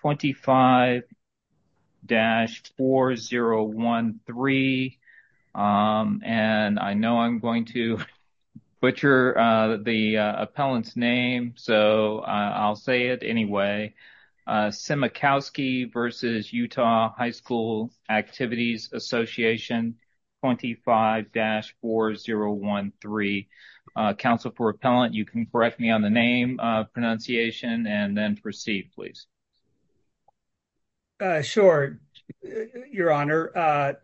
25-4013, and I know I'm going to butcher the appellant's name, so I'll say it anyway. Szymakowski v. Utah High School Activities Association 25-4013. Council for Appellant, you can correct me on the name pronunciation and then proceed, please. Sure, Your Honor.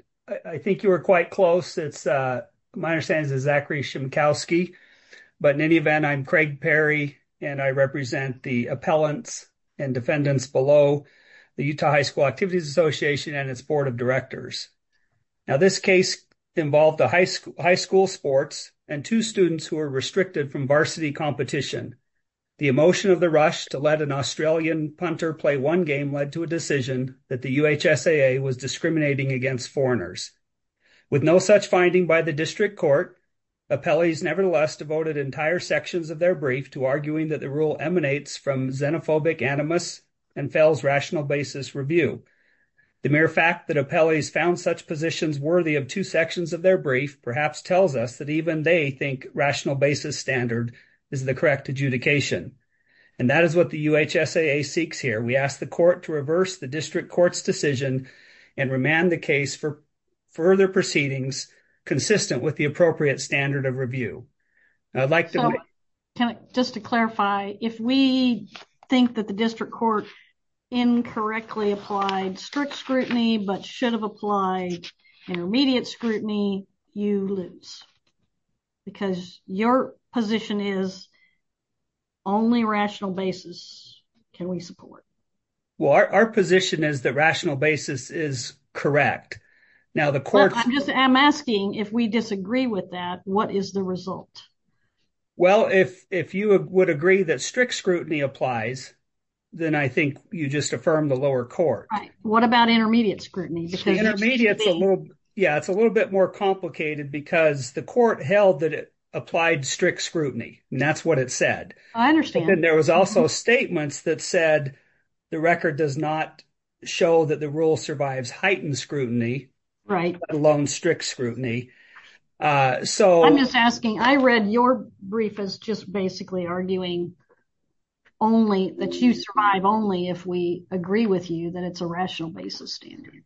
I think you were quite close. My understanding is Zachary Szymakowski, but in any event, I'm Craig Perry, and I represent the appellants and defendants below the Utah High School Activities Association and its board of directors. Now, this case involved a high school sports and two students who are restricted from varsity competition. The emotion of the rush to let an Australian punter play one game led to a decision that the UHSAA was discriminating against foreigners. With no such finding by the district court, appellees nevertheless devoted entire sections of their brief to arguing that the rule emanates from xenophobic animus and fails rational basis review. The mere fact that appellees found such positions worthy of two sections of their brief perhaps tells us that even they think rational basis standard is the correct adjudication. And that is what the UHSAA seeks here. We ask the court to reverse the district court's decision and remand the case for further proceedings consistent with the appropriate standard of review. Just to clarify, if we think that the district court incorrectly applied strict scrutiny but should have applied intermediate scrutiny, you lose because your position is only rational basis can we support? Well, our position is that rational basis is correct. Now, the court. I'm asking if we disagree with that. What is the result? Well, if if you would agree that strict scrutiny applies, then I think you just affirm the lower court. What about intermediate scrutiny? Yeah, it's a little bit more complicated because the court held that it applied strict scrutiny. And that's what it said. I understand. And there was also statements that said the record does not show that the rule survives heightened scrutiny, let alone strict scrutiny. I'm just asking, I read your brief as just basically arguing only that you survive only if we agree with you that it's a rational basis standard.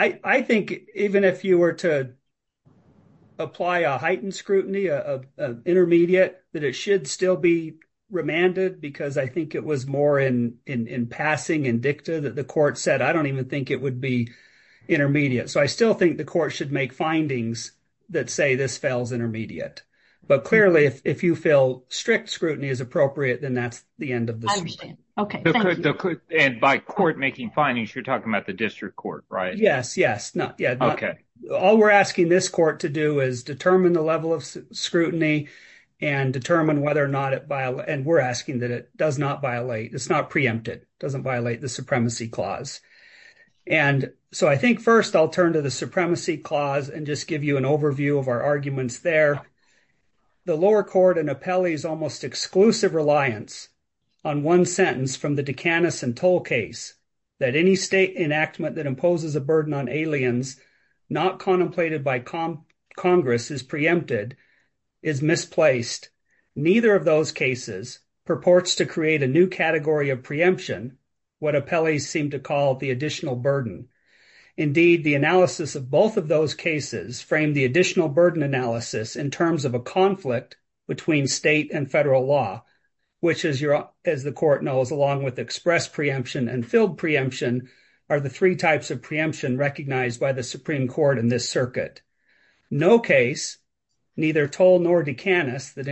I think even if you were to apply a heightened scrutiny of intermediate, that it should still be remanded because I think it was more in in passing and dicta that the court said, I don't even think it would be intermediate. So, I still think the court should make findings that say this fails intermediate. But clearly, if you feel strict scrutiny is appropriate, then that's the end of the. Okay, and by court making findings, you're talking about the district court, right? Yes. Yes. No. Yeah. Okay. All we're asking this court to do is determine the level of scrutiny and determine whether or not it and we're asking that it does not violate. It's not preempted. Doesn't violate the supremacy clause. And so I think 1st, I'll turn to the supremacy clause and just give you an overview of our arguments there. The lower court and appellees almost exclusive reliance on 1 sentence from the decanus and toll case that any state enactment that imposes a burden on aliens, not contemplated by Congress is preempted, is misplaced. Neither of those cases purports to create a new category of preemption, what appellees seem to call the additional burden. Indeed, the analysis of both of those cases frame the additional burden analysis in terms of a conflict between state and federal law, which is, as the court knows, along with express preemption and filled preemption are the 3 types of preemption recognized by the Supreme Court in this circuit. No case, neither toll nor decanus that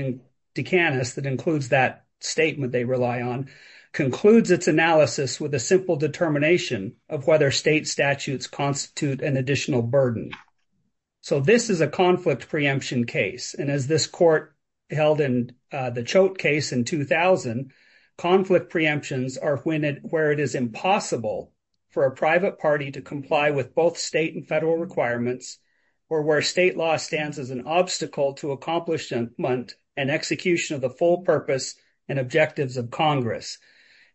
includes that statement they rely on, concludes its analysis with a simple determination of whether state statutes constitute an additional burden. So this is a conflict preemption case. And as this court held in the chote case in 2000, conflict preemptions are when it where it is impossible for a private party to comply with both state and federal requirements or where state law stands as an obstacle to accomplishment and execution of the full purpose and objectives of Congress.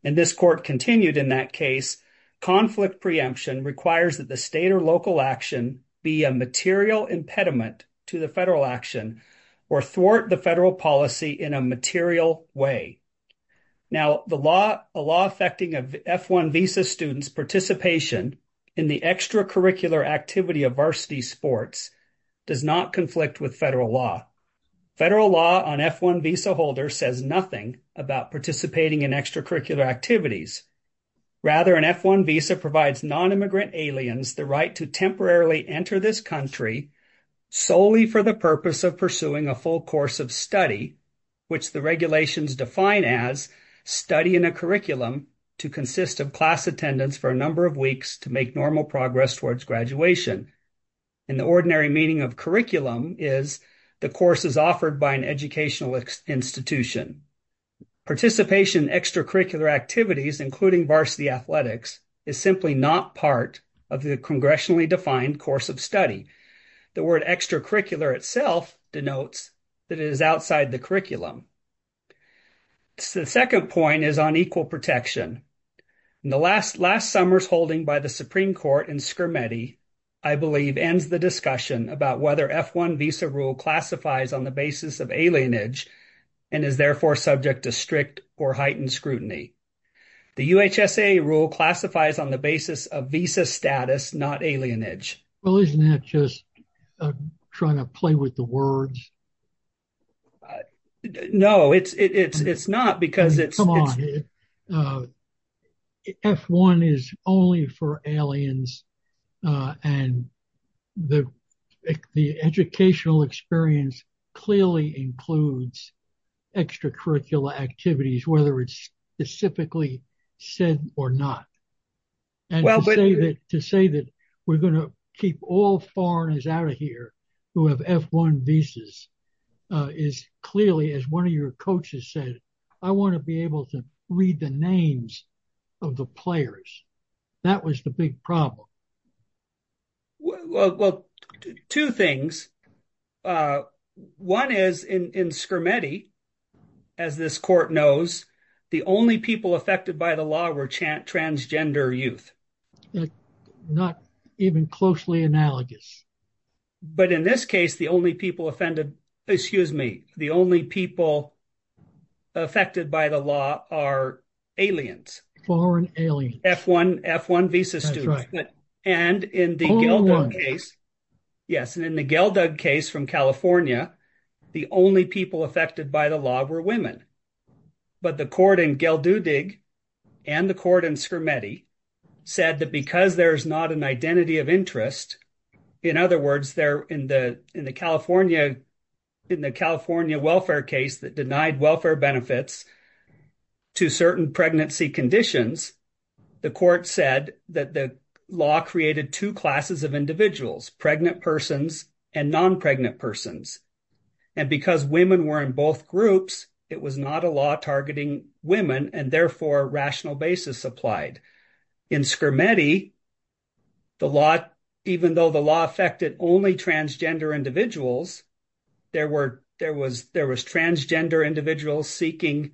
And this court continued in that case, conflict preemption requires that the state or local action be a material impediment to the federal action or thwart the federal policy in a material way. Now, the law affecting a F-1 visa student's participation in the extracurricular activity of varsity sports does not conflict with federal law. Federal law on F-1 visa holders says nothing about participating in extracurricular activities. Rather, an F-1 visa provides non-immigrant aliens the right to temporarily enter this country solely for the purpose of pursuing a full course of study, which the regulations define as study in a curriculum to consist of class attendance for a number of weeks to make normal progress towards graduation. And the ordinary meaning of curriculum is the course is offered by an educational institution. Participation in extracurricular activities, including varsity athletics, is simply not part of the congressionally defined course of study. The word extracurricular itself denotes that it is outside the curriculum. The second point is on equal protection. In the last last summer's holding by the Supreme Court in Skirmetti, I believe, ends the discussion about whether F-1 visa rule classifies on the basis of alienage and is therefore subject to strict or heightened scrutiny. The UHSAA rule classifies on the basis of visa status, not alienage. Well, isn't that just trying to play with the words? No, it's not because it's... F-1 is only for aliens and the educational experience clearly includes extracurricular activities, whether it's specifically said or not. And to say that we're going to keep all foreigners out of here who have F-1 visas is clearly, as one of your coaches said, I want to be able to read the names of the players. That was the big problem. Well, two things. One is in Skirmetti, as this court knows, the only people affected by the law were transgender youth. Not even closely analogous. But in this case, the only people offended, excuse me, the only people affected by the law are aliens. Foreign aliens. F-1 visa students. That's right. And in the Galdug case, yes, and in the Galdug case from California, the only people affected by the law were women. But the court in Galdudig and the court in Skirmetti said that because there's not an identity of interest in other words, they're in the California welfare case that denied welfare benefits to certain pregnancy conditions, the court said that the law created two classes of individuals. Pregnant persons and non-pregnant persons. And because women were in both groups, it was not a law targeting women and therefore rational basis applied. In Skirmetti, the law, even though the law affected only transgender individuals, there were, there was, there was transgender individuals seeking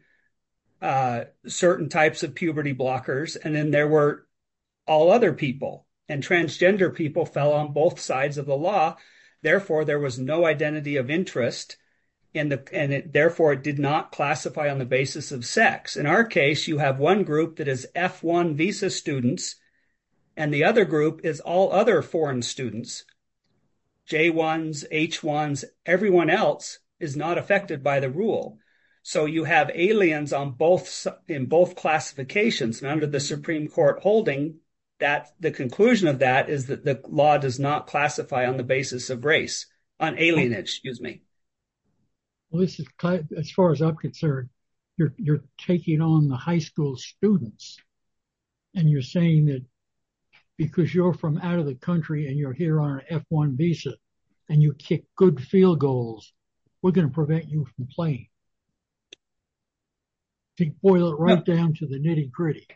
certain types of puberty blockers, and then there were all other people. And transgender people fell on both sides of the law. Therefore, there was no identity of interest and therefore it did not classify on the basis of sex. In our case, you have one group that is F-1 visa students and the other group is all other foreign students. J-1s, H-1s, everyone else is not affected by the rule. So you have aliens on both, in both classifications and under the Supreme Court holding that the conclusion of that is that the law does not classify on the basis of race, on alienage, excuse me. Well, this is, as far as I'm concerned, you're taking on the high school students and you're saying that because you're from out of the country and you're here on an F-1 visa and you kick good field goals, we're going to prevent you from playing. To boil it right down to the nitty-gritty.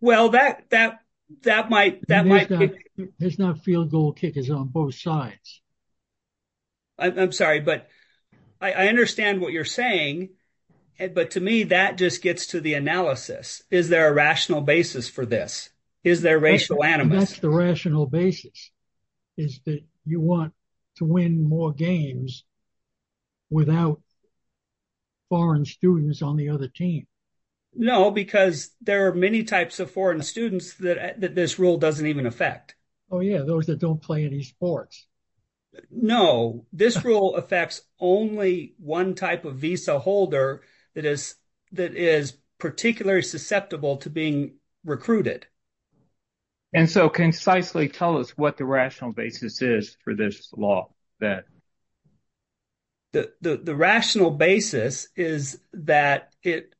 Well, that, that, that might, that might be. There's not field goal kickers on both sides. I'm sorry, but I understand what you're saying but to me that just gets to the analysis. Is there a rational basis for this? Is there racial animus? That's the rational basis. Is that you want to win more games without foreign students on the other team? No, because there are many types of foreign students that this rule doesn't even affect. Oh, yeah, those that don't play any sports. No, this rule affects only one type of visa holder that is, that is particularly susceptible to being recruited. And so can you precisely tell us what the rational basis is for this law that? The, the, the rational basis is that it,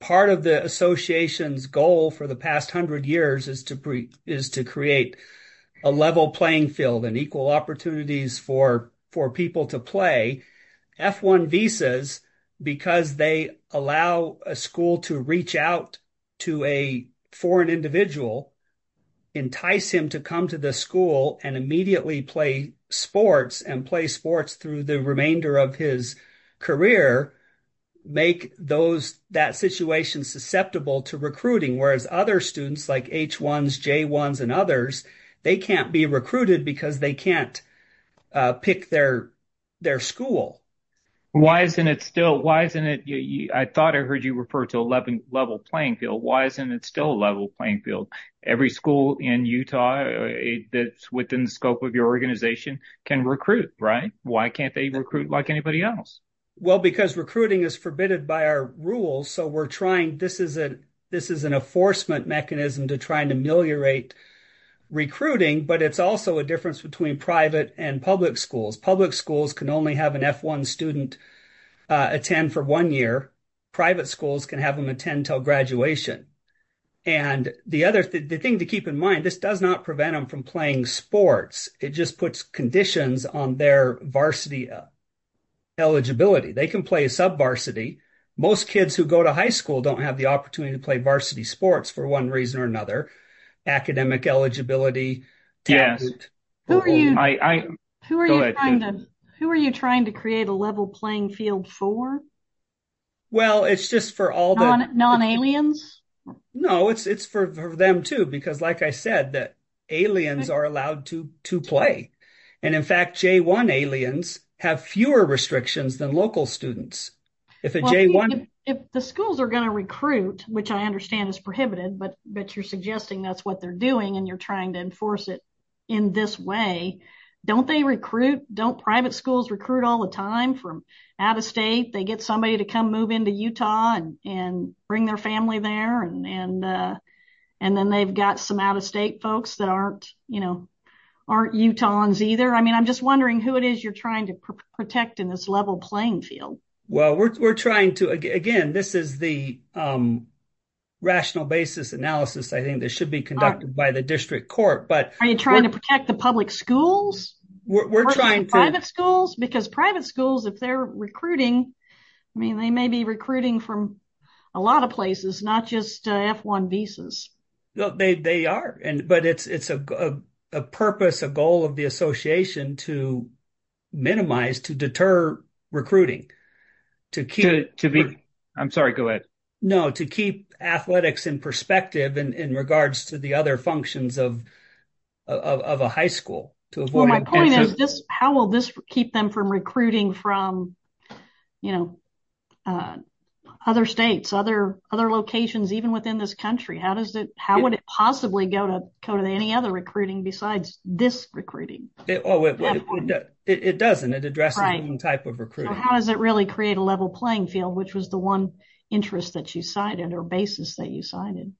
part of the association's goal for the past hundred years is to, is to create a level playing field and equal opportunities for, for people to play. F-1 visas, because they allow a school to reach out to a foreign individual, entice him to come to the school and immediately play sports and play sports through the remainder of his career, make those, that situation susceptible to recruiting. Whereas other students like H-1s, J-1s and others they can't be recruited because they can't pick their, their school. Why isn't it still, why isn't it? I thought I heard you refer to a level playing field. Why isn't it still a level playing field? Every school in Utah that's within the scope of your organization can recruit, right? Why can't they recruit like anybody else? Well, because recruiting is forbidden by our rules. So we're trying, this is a, this is an enforcement mechanism to try and ameliorate recruiting, but it's also a difference between private and public schools. Public schools can only have an F-1 student attend for one year. Private schools can have them attend until graduation. And the other, the thing to keep in mind, this does not prevent them from playing sports. It just puts conditions on their varsity eligibility. They can play a sub-varsity. Most kids who go to high school don't have the opportunity to play varsity sports for one reason or another. Academic eligibility. Yes. Who are you? Who are you trying to, who are you trying to create a level playing field for? Well, it's just for all the, non-aliens? No, it's, it's for them too, because like I said, that aliens are allowed to, to play. And in fact, J-1 aliens have fewer restrictions than local students. If a J-1... If the schools are going to recruit, which I understand is prohibited, but, but you're suggesting that's what they're doing and you're trying to enforce it in this way, don't they recruit, don't private schools recruit all the time from out of state? They get somebody to come move into Utah and, and bring their family there and, and and then they've got some out-of-state folks that aren't, you know, aren't Utahns either. I mean, I'm just wondering who it is you're trying to protect in this level playing field. Well, we're, we're trying to, again, this is the rational basis analysis, I think, that should be conducted by the district court, but... Are you trying to protect the public schools? We're trying to... Private schools? Because private schools, if they're recruiting, I mean, they may be recruiting from a lot of places, not just F-1 visas. No, they, they are, and, but it's, it's a purpose, a goal of the association to minimize, to deter recruiting, to keep... To be, I'm sorry, go ahead. No, to keep athletics in perspective in, in regards to the other functions of, of, of a high school, to avoid... Well, my point is just how will this keep them from recruiting from, you know, other states, other, other locations, even within this country? How does it, how would it possibly go to, go to any other recruiting besides this recruiting? Well, it doesn't. It addresses the same type of recruiting. So how does it really create a level playing field, which was the one interest that you cited, or basis that you cited?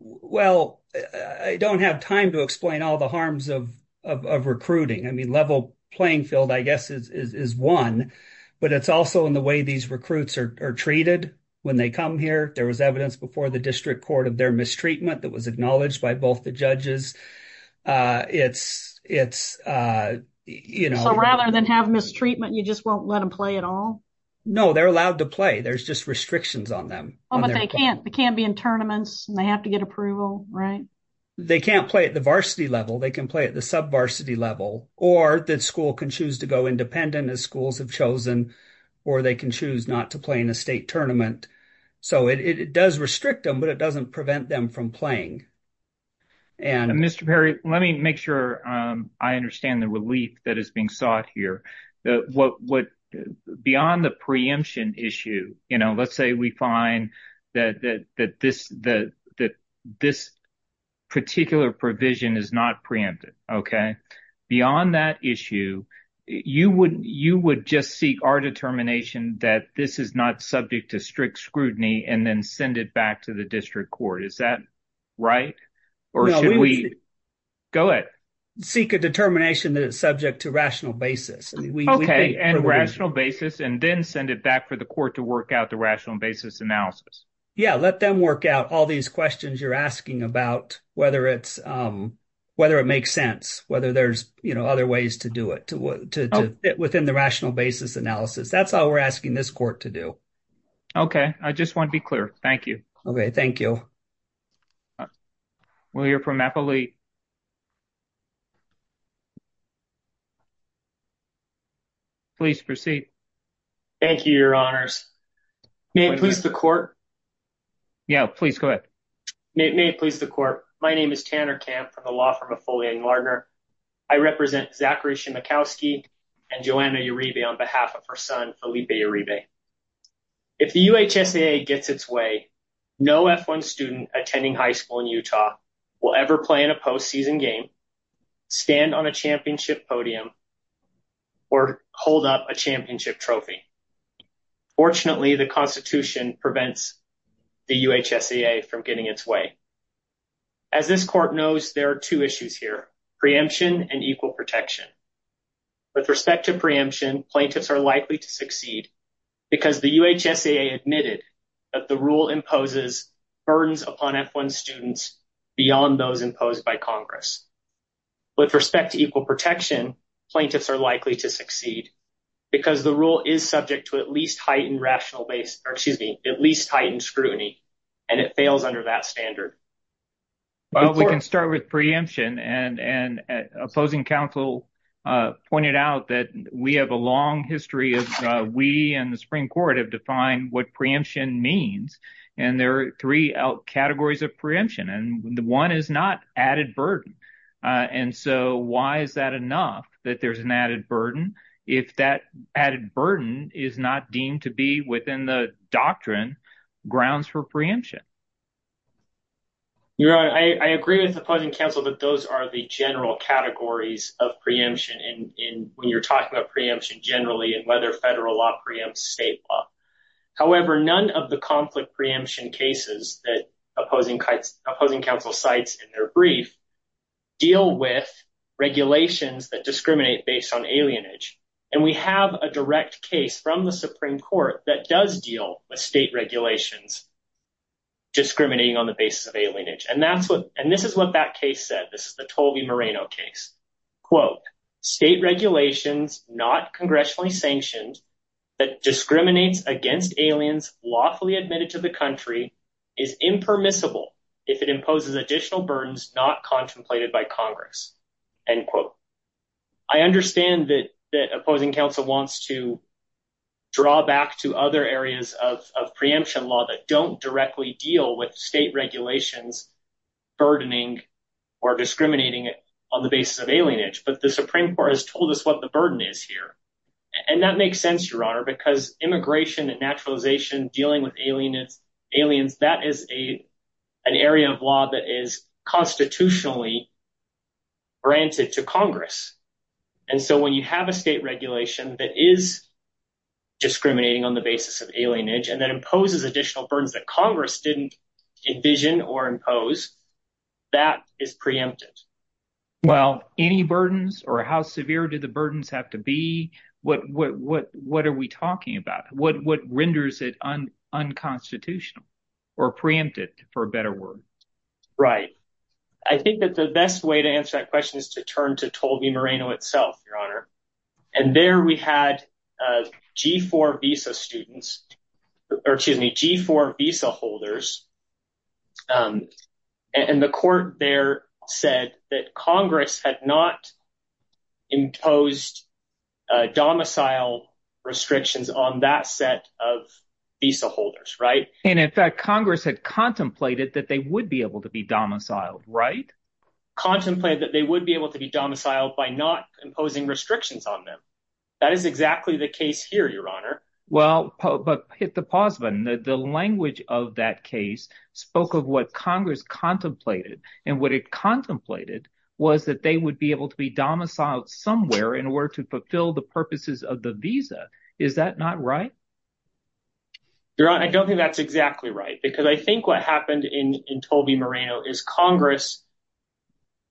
Well, I don't have time to explain all the harms of, of, of recruiting. I mean, level playing field, I guess, is, is, is one, but it's also in the way these recruits are treated when they come here. There was evidence before the district court of their mistreatment that was acknowledged by both the judges. It's, it's, you know... So rather than have mistreatment, you just won't let them play at all? No, they're allowed to play. There's just restrictions on them. Oh, but they can't, they can't be in tournaments and they have to get approval, right? They can't play at the varsity level. They can play at the sub-varsity level, or the school can choose to go independent as schools have chosen, or they can choose not to play in a state tournament. So it, it does restrict them, but it doesn't prevent them from playing. And Mr. Perry, let me make sure I understand the relief that is being sought here. What, what, beyond the preemption issue, you know, let's say we find that, that, that this, the, that this particular provision is not preempted, okay? Beyond that issue, you would, you would just seek our determination that this is not subject to strict scrutiny and then send it back to the district court. Is that right? Or should we? Go ahead. Seek a determination that it's subject to rational basis. Okay, and rational basis, and then send it back for the court to work out the rational basis analysis. Yeah, let them work out all these questions you're asking about whether it's, whether it makes sense, whether there's, you know, other ways to do it, to, to, within the rational basis analysis. That's all we're asking this court to do. Okay, I just want to be clear. Thank you. Okay, thank you. We'll hear from Applee. Please proceed. Thank you, your honors. May it please the court. Yeah, please go ahead. May it please the court. My name is Tanner Camp from the law firm of Foley and Lardner. I represent Zachary Shimakowski and Joanna Uribe on behalf of her son Felipe Uribe. If the UHSAA gets its way, no F-1 student attending high school in Utah will ever play in a postseason game, stand on a championship podium, or hold up a championship trophy. Fortunately, the Constitution prevents the UHSAA from getting its way. As this court knows, there are two issues here, preemption and equal protection. With respect to preemption, plaintiffs are likely to succeed because the UHSAA admitted that the rule imposes burdens upon F-1 students beyond those imposed by Congress. With respect to equal protection, plaintiffs are likely to succeed because the rule is subject to at least heightened rational base, or excuse me, at least heightened scrutiny, and it fails under that standard. Well, we can start with preemption and opposing counsel pointed out that we have a long history of we and the Supreme Court have defined what preemption means and there are three categories of preemption and the one is not added burden. And so why is that enough that there's an added burden if that added burden is not deemed to be within the grounds for preemption? Your Honor, I agree with opposing counsel that those are the general categories of preemption and when you're talking about preemption generally and whether federal law preempts state law. However, none of the conflict preemption cases that opposing counsel cites in their brief deal with regulations that discriminate based on alienage. And we have a direct case from the Supreme Court that does deal with state regulations discriminating on the basis of alienage and that's what and this is what that case said. This is the Tolby Moreno case. Quote, state regulations not congressionally sanctioned that discriminates against aliens lawfully admitted to the country is impermissible if it imposes additional burdens not contemplated by Congress. End quote. I understand that that opposing counsel wants to draw back to other areas of preemption law that don't directly deal with state regulations burdening or discriminating on the basis of alienage, but the Supreme Court has told us what the burden is here. And that makes sense, Your Honor, because immigration and naturalization dealing with aliens, that is a an area of law that is constitutionally granted to Congress. And so when you have a state regulation that is discriminating on the basis of alienage and that imposes additional burdens that Congress didn't envision or impose, that is preempted. Well, any burdens or how severe do the burdens have to be? What are we talking about? What renders it unconstitutional or preempted for a better word? Right. I think that the best way to answer that question is to turn to Tolbi Moreno itself, Your Honor. And there we had G4 visa students or excuse me, G4 visa holders and the court there said that Congress had not imposed domicile restrictions on that set of visa holders, right? And in fact, Congress had contemplated that they would be able to be domiciled, right? Contemplate that they would be able to be domiciled by not imposing restrictions on them. That is exactly the case here, Your Honor. Well, but hit the pause button. The language of that case spoke of what Congress contemplated and what it contemplated was that they would be able to be domiciled somewhere in order to fulfill the purposes of the visa. Is that not right? Your Honor, I don't think that's exactly right because I think what happened in in Tolbi Moreno is Congress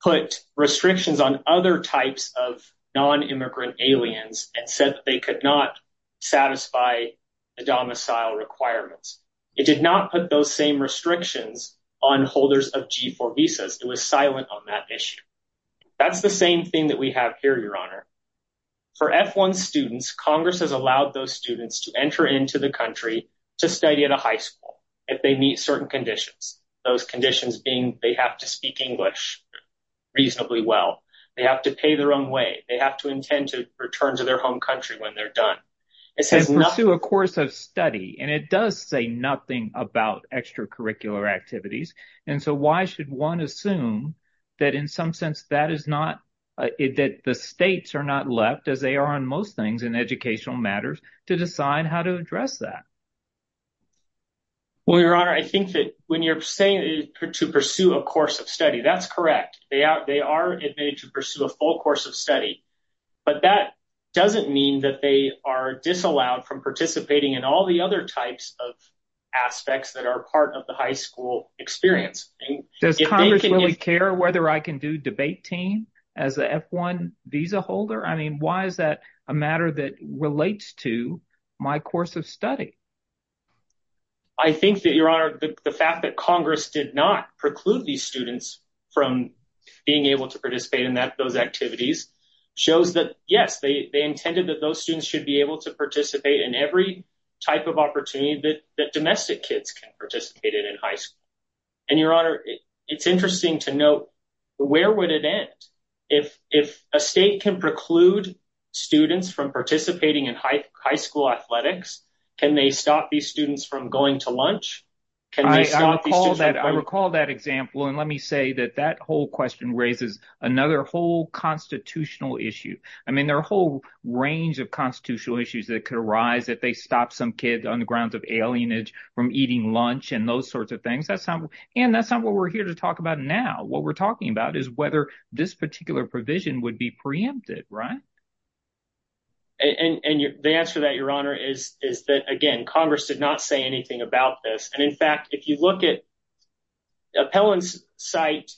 put restrictions on other types of non-immigrant aliens and said that they could not the domicile requirements. It did not put those same restrictions on holders of G4 visas. It was silent on that issue. That's the same thing that we have here, Your Honor. For F1 students, Congress has allowed those students to enter into the country to study at a high school if they meet certain conditions. Those conditions being they have to speak English reasonably well. They have to pay their own way. They have to intend to return to their home country when they're done. It says pursue a course of study and it does say nothing about extracurricular activities. And so why should one assume that in some sense that is not that the states are not left as they are on most things in educational matters to decide how to address that? Well, Your Honor, I think that when you're saying to pursue a course of study, that's correct. They are admitted to pursue a full course of study. But that doesn't mean that they are disallowed from participating in all the other types of aspects that are part of the high school experience. Does Congress really care whether I can do debate team as the F1 visa holder? I mean, why is that a matter that relates to my course of study? I think that, Your Honor, the fact that Congress did not preclude these students from being able to participate in those activities shows that, yes, they intended that those students should be able to participate in every type of opportunity that domestic kids can participate in in high school. And, Your Honor, it's interesting to note where would it end? If a state can preclude students from participating in high school athletics, can they stop these students from going to lunch? I recall that example. And let me say that that whole question raises another whole constitutional issue. I mean, there are a whole range of constitutional issues that could arise if they stop some kids on the grounds of alienage from eating lunch and those sorts of things. And that's not what we're here to talk about now. What we're talking about is whether this particular provision would be preempted, right? And the answer to that, Your Honor, is that, again, Congress did not say anything about this. And, in fact, if you look at appellants cite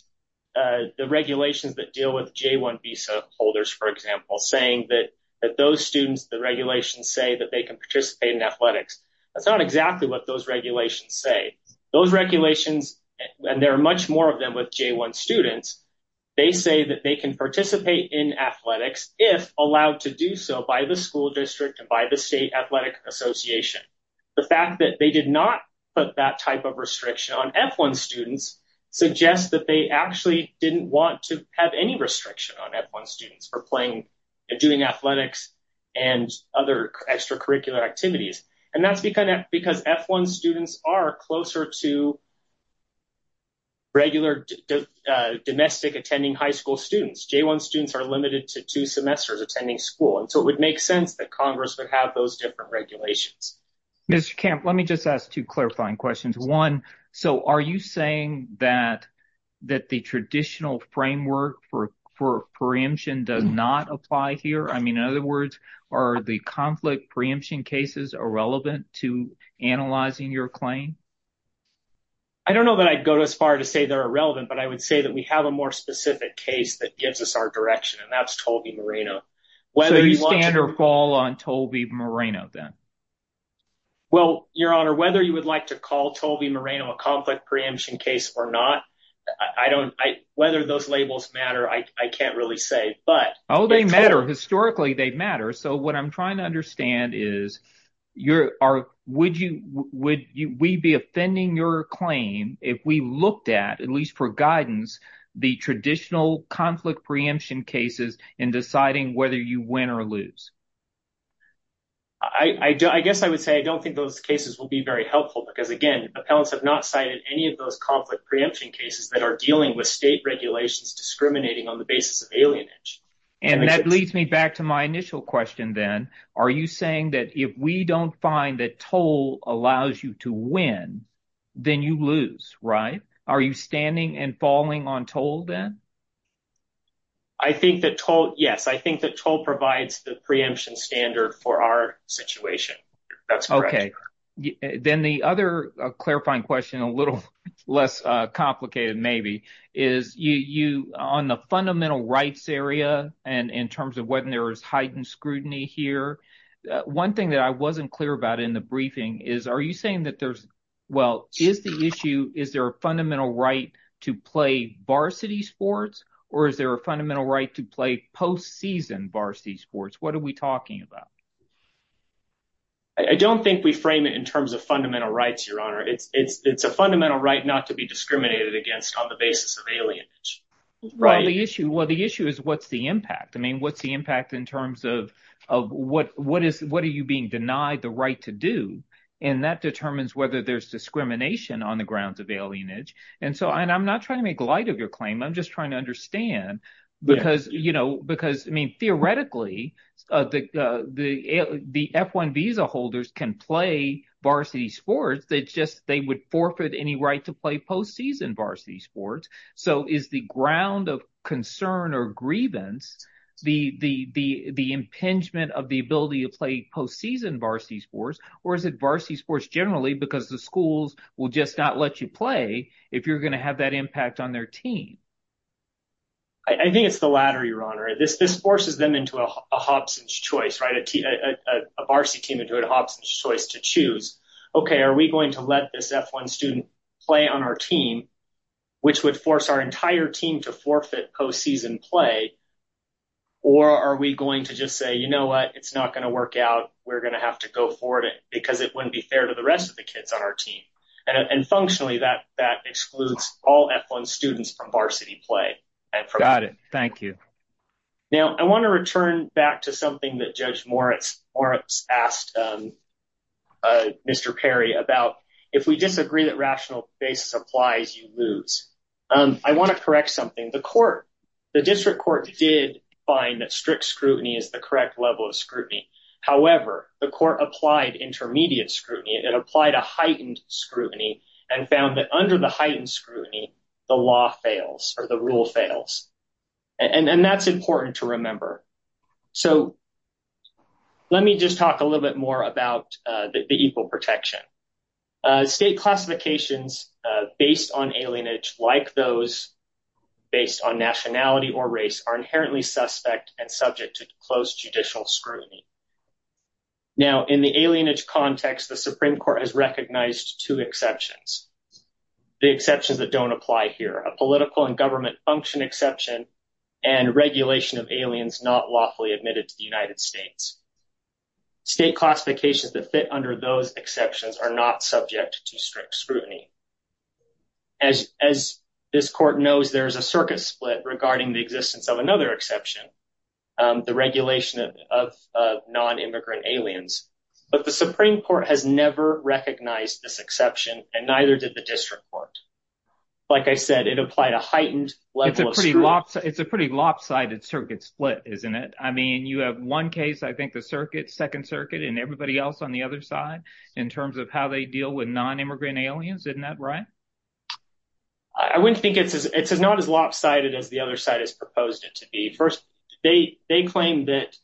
the regulations that deal with J-1 visa holders, for example, saying that those students, the regulations say that they can participate in athletics, that's not exactly what those regulations say. Those regulations, and there are much more of them with J-1 students, they say that they can participate in athletics if allowed to do so by the school district and by the state athletic association. The fact that they did not put that type of restriction on F-1 students suggests that they actually didn't want to have any restriction on F-1 students for playing and doing athletics and other extracurricular activities. And that's because F-1 students are closer to regular domestic attending high school students. J-1 students are limited to two semesters attending school. And so it would make sense that Congress would have those different regulations. Mr. Camp, let me just ask two clarifying questions. One, so are you saying that the traditional framework for preemption does not apply here? I mean, in other words, are the conflict preemption cases irrelevant to analyzing your claim? I don't know that I'd go as far to say they're irrelevant, but I would say that we have a more specific case that gives us our direction and that's Tolby Moreno. So you stand or fall on Tolby Moreno then? Well, Your Honor, whether you would like to call Tolby Moreno a conflict preemption case or not, whether those labels matter, I can't really say. Oh, they matter. Historically, they matter. So what I'm trying to understand is would we be offending your claim if we looked at, at least for guidance, the traditional conflict preemption cases in deciding whether you win or lose? I guess I would say I don't think those cases will be very helpful because, again, appellants have not cited any of those conflict preemption cases that are dealing with state regulations discriminating on the basis of alienage. And that leads me back to my initial question then. Are you saying that if we don't find that Toll allows you to win, then you lose, right? Are you standing and falling on Toll then? I think that Toll, yes, I think that Toll provides the preemption standard for our situation. That's correct. Then the other clarifying question, a little less complicated maybe, is on the fundamental rights area and in terms of whether there is heightened scrutiny here, one thing that I wasn't clear about in the briefing is, are you saying that there's, well, is the issue, is there a fundamental right to play varsity sports or is there a fundamental right to play post-season varsity sports? What are we talking about? I don't think we frame it in terms of fundamental rights, Your Honor. It's a fundamental right not to be discriminated against on the basis of alienage. Well, the issue is what's the impact? I mean, what's the impact in terms of what are you being denied the right to do? And that determines whether there's discrimination on the grounds of alienage. And so I'm not trying to make light of your claim. I'm just trying to understand because, you know, because, I mean, theoretically the F-1 visa holders can play varsity sports. They just, they would forfeit any right to play post-season varsity sports. So is the ground of concern or grievance the impingement of the ability to play post-season varsity sports? Or is it varsity sports generally because the schools will just not let you play if you're going to have that impact on their team? I think it's the latter, Your Honor. This forces them into a Hobson's choice, right? A varsity team into a Hobson's choice to choose. Okay, are we going to let this F-1 student play on our team? Which would force our entire team to forfeit post-season play? Or are we going to just say, you know what? It's not going to work out. We're going to have to go forward because it wouldn't be fair to the rest of the kids on our team. And functionally that excludes all F-1 students from varsity play. Got it. Thank you. Now I want to return back to something that Judge Moritz asked Mr. Perry about. If we disagree that rational basis applies, you lose. I want to correct something. The court, the district court did find that strict scrutiny is the correct level of scrutiny. However, the court applied intermediate scrutiny. It applied a heightened scrutiny and found that under the heightened scrutiny, the law fails or the rule fails. And that's important to remember. So let me just talk a little bit more about the equal protection. State classifications based on alienage like those based on nationality or race are inherently suspect and subject to close judicial scrutiny. Now in the alienage context, the Supreme Court has recognized two exceptions. The exceptions that don't apply here. A political and government function exception and regulation of aliens not lawfully admitted to the United States. State classifications that fit under those exceptions are not subject to strict scrutiny. As this court knows, there is a circuit split regarding the existence of another exception. The regulation of non-immigrant aliens. But the Supreme Court has never recognized this exception and neither did the district court. Like I said, it applied a heightened level. It's a pretty lopsided circuit split, isn't it? I mean you have one case, I think the circuit, second circuit and everybody else on the other side in terms of how they deal with non-immigrant aliens. Isn't that right? I wouldn't think it's as not as lopsided as the other side has proposed it to be. First, they claim that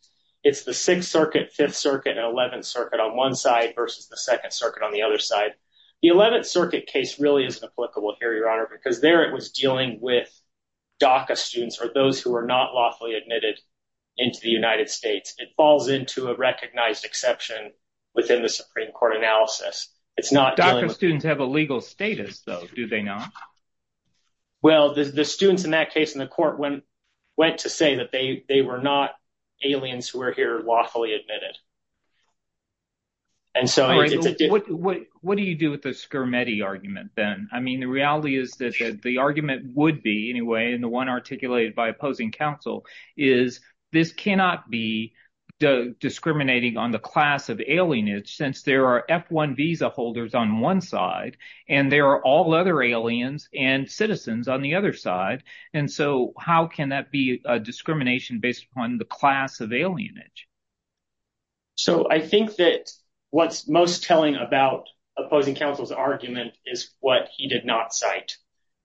it's the 6th circuit, 5th circuit and 11th circuit on one side versus the 2nd circuit on the other side. The 11th circuit case really isn't applicable here, your honor, because there it was dealing with DACA students or those who are not lawfully admitted into the United States. It falls into a recognized exception within the Supreme Court analysis. DACA students have a legal status though, do they not? Well, the students in that case in the court went to say that they were not aliens who are here lawfully admitted. What do you do with the Scarametti argument then? I mean the reality is that the argument would be anyway, and the one articulated by opposing counsel, is this cannot be discriminating on the class of alienage since there are F-1 visa holders on one side and there are all other aliens and citizens on the other side. And so how can that be a discrimination based upon the class of alienage? So I think that what's most telling about opposing counsel's argument is what he did not cite.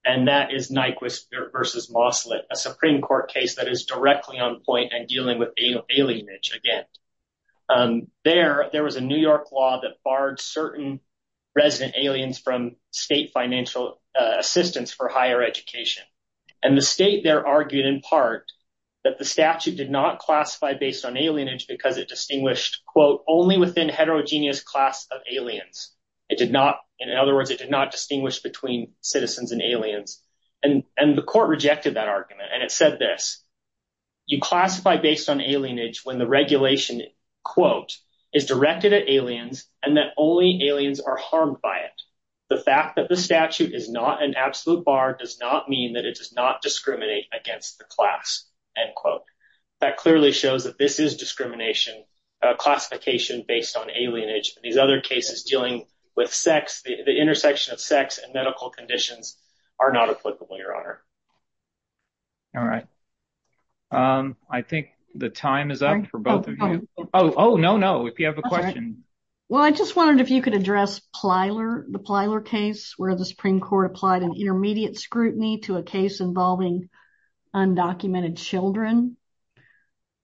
And that is Nyquist versus Moslet, a Supreme Court case that is directly on point and dealing with alienage again. There was a New York law that barred certain resident aliens from state financial assistance for higher education. And the state there argued in part that the statute did not classify based on alienage because it distinguished only within heterogeneous class of aliens. In other words, it did not distinguish between citizens and aliens. And the court rejected that argument and it said this, you classify based on alienage when the regulation is directed at aliens and that only aliens are harmed by it. The fact that the statute is not an absolute bar does not mean that it does not discriminate against the class. End quote. That clearly shows that this is discrimination classification based on alienage. These other cases dealing with sex, the intersection of sex and medical conditions are not applicable, Your Honor. All right. I think the time is up for both of you. Oh, no, no, if you have a question. Well, I just wondered if you could address Plyler, the Plyler case where the Supreme Court applied an intermediate scrutiny to a case involving undocumented children.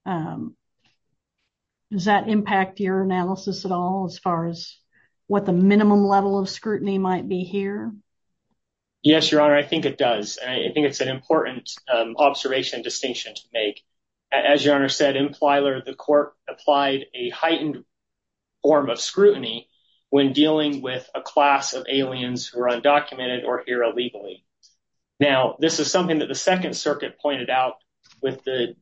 Does that impact your analysis at all as far as what the minimum level of scrutiny might be here? Yes, Your Honor, I think it does. I think it's an important observation distinction to make. As Your Honor said, in Plyler, the court applied a heightened form of scrutiny when dealing with a class of aliens who are undocumented or here illegally. Now, this is something that the Second Circuit pointed out with the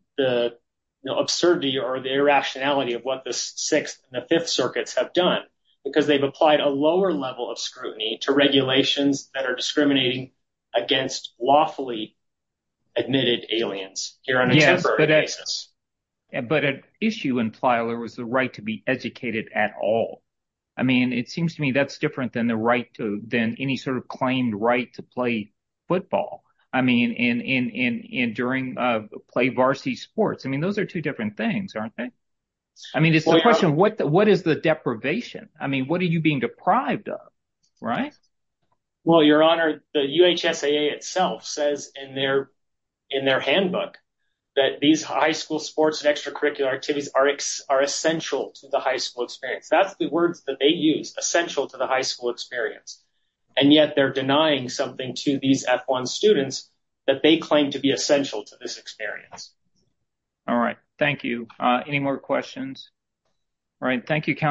absurdity or the irrationality of what the Sixth and the Fifth Circuits have done because they've applied a lower level of scrutiny to regulations that are discriminating against lawfully admitted aliens here on a temporary basis. But at issue in Plyler was the right to be educated at all. I mean, it seems to me that's different than the right to than any sort of claimed right to play football. I mean, and during play varsity sports. I mean, those are two different things, aren't they? I mean, it's the question. What is the deprivation? I mean, what are you being deprived of, right? Well, Your Honor, the UHSAA itself says in their handbook that these high school sports and extracurricular activities are essential to the high school experience. That's the words that they use, essential to the high school experience. And yet they're denying something to these F-1 students that they claim to be essential to this experience. All right. Thank you. Any more questions? All right. Thank you, Counselor.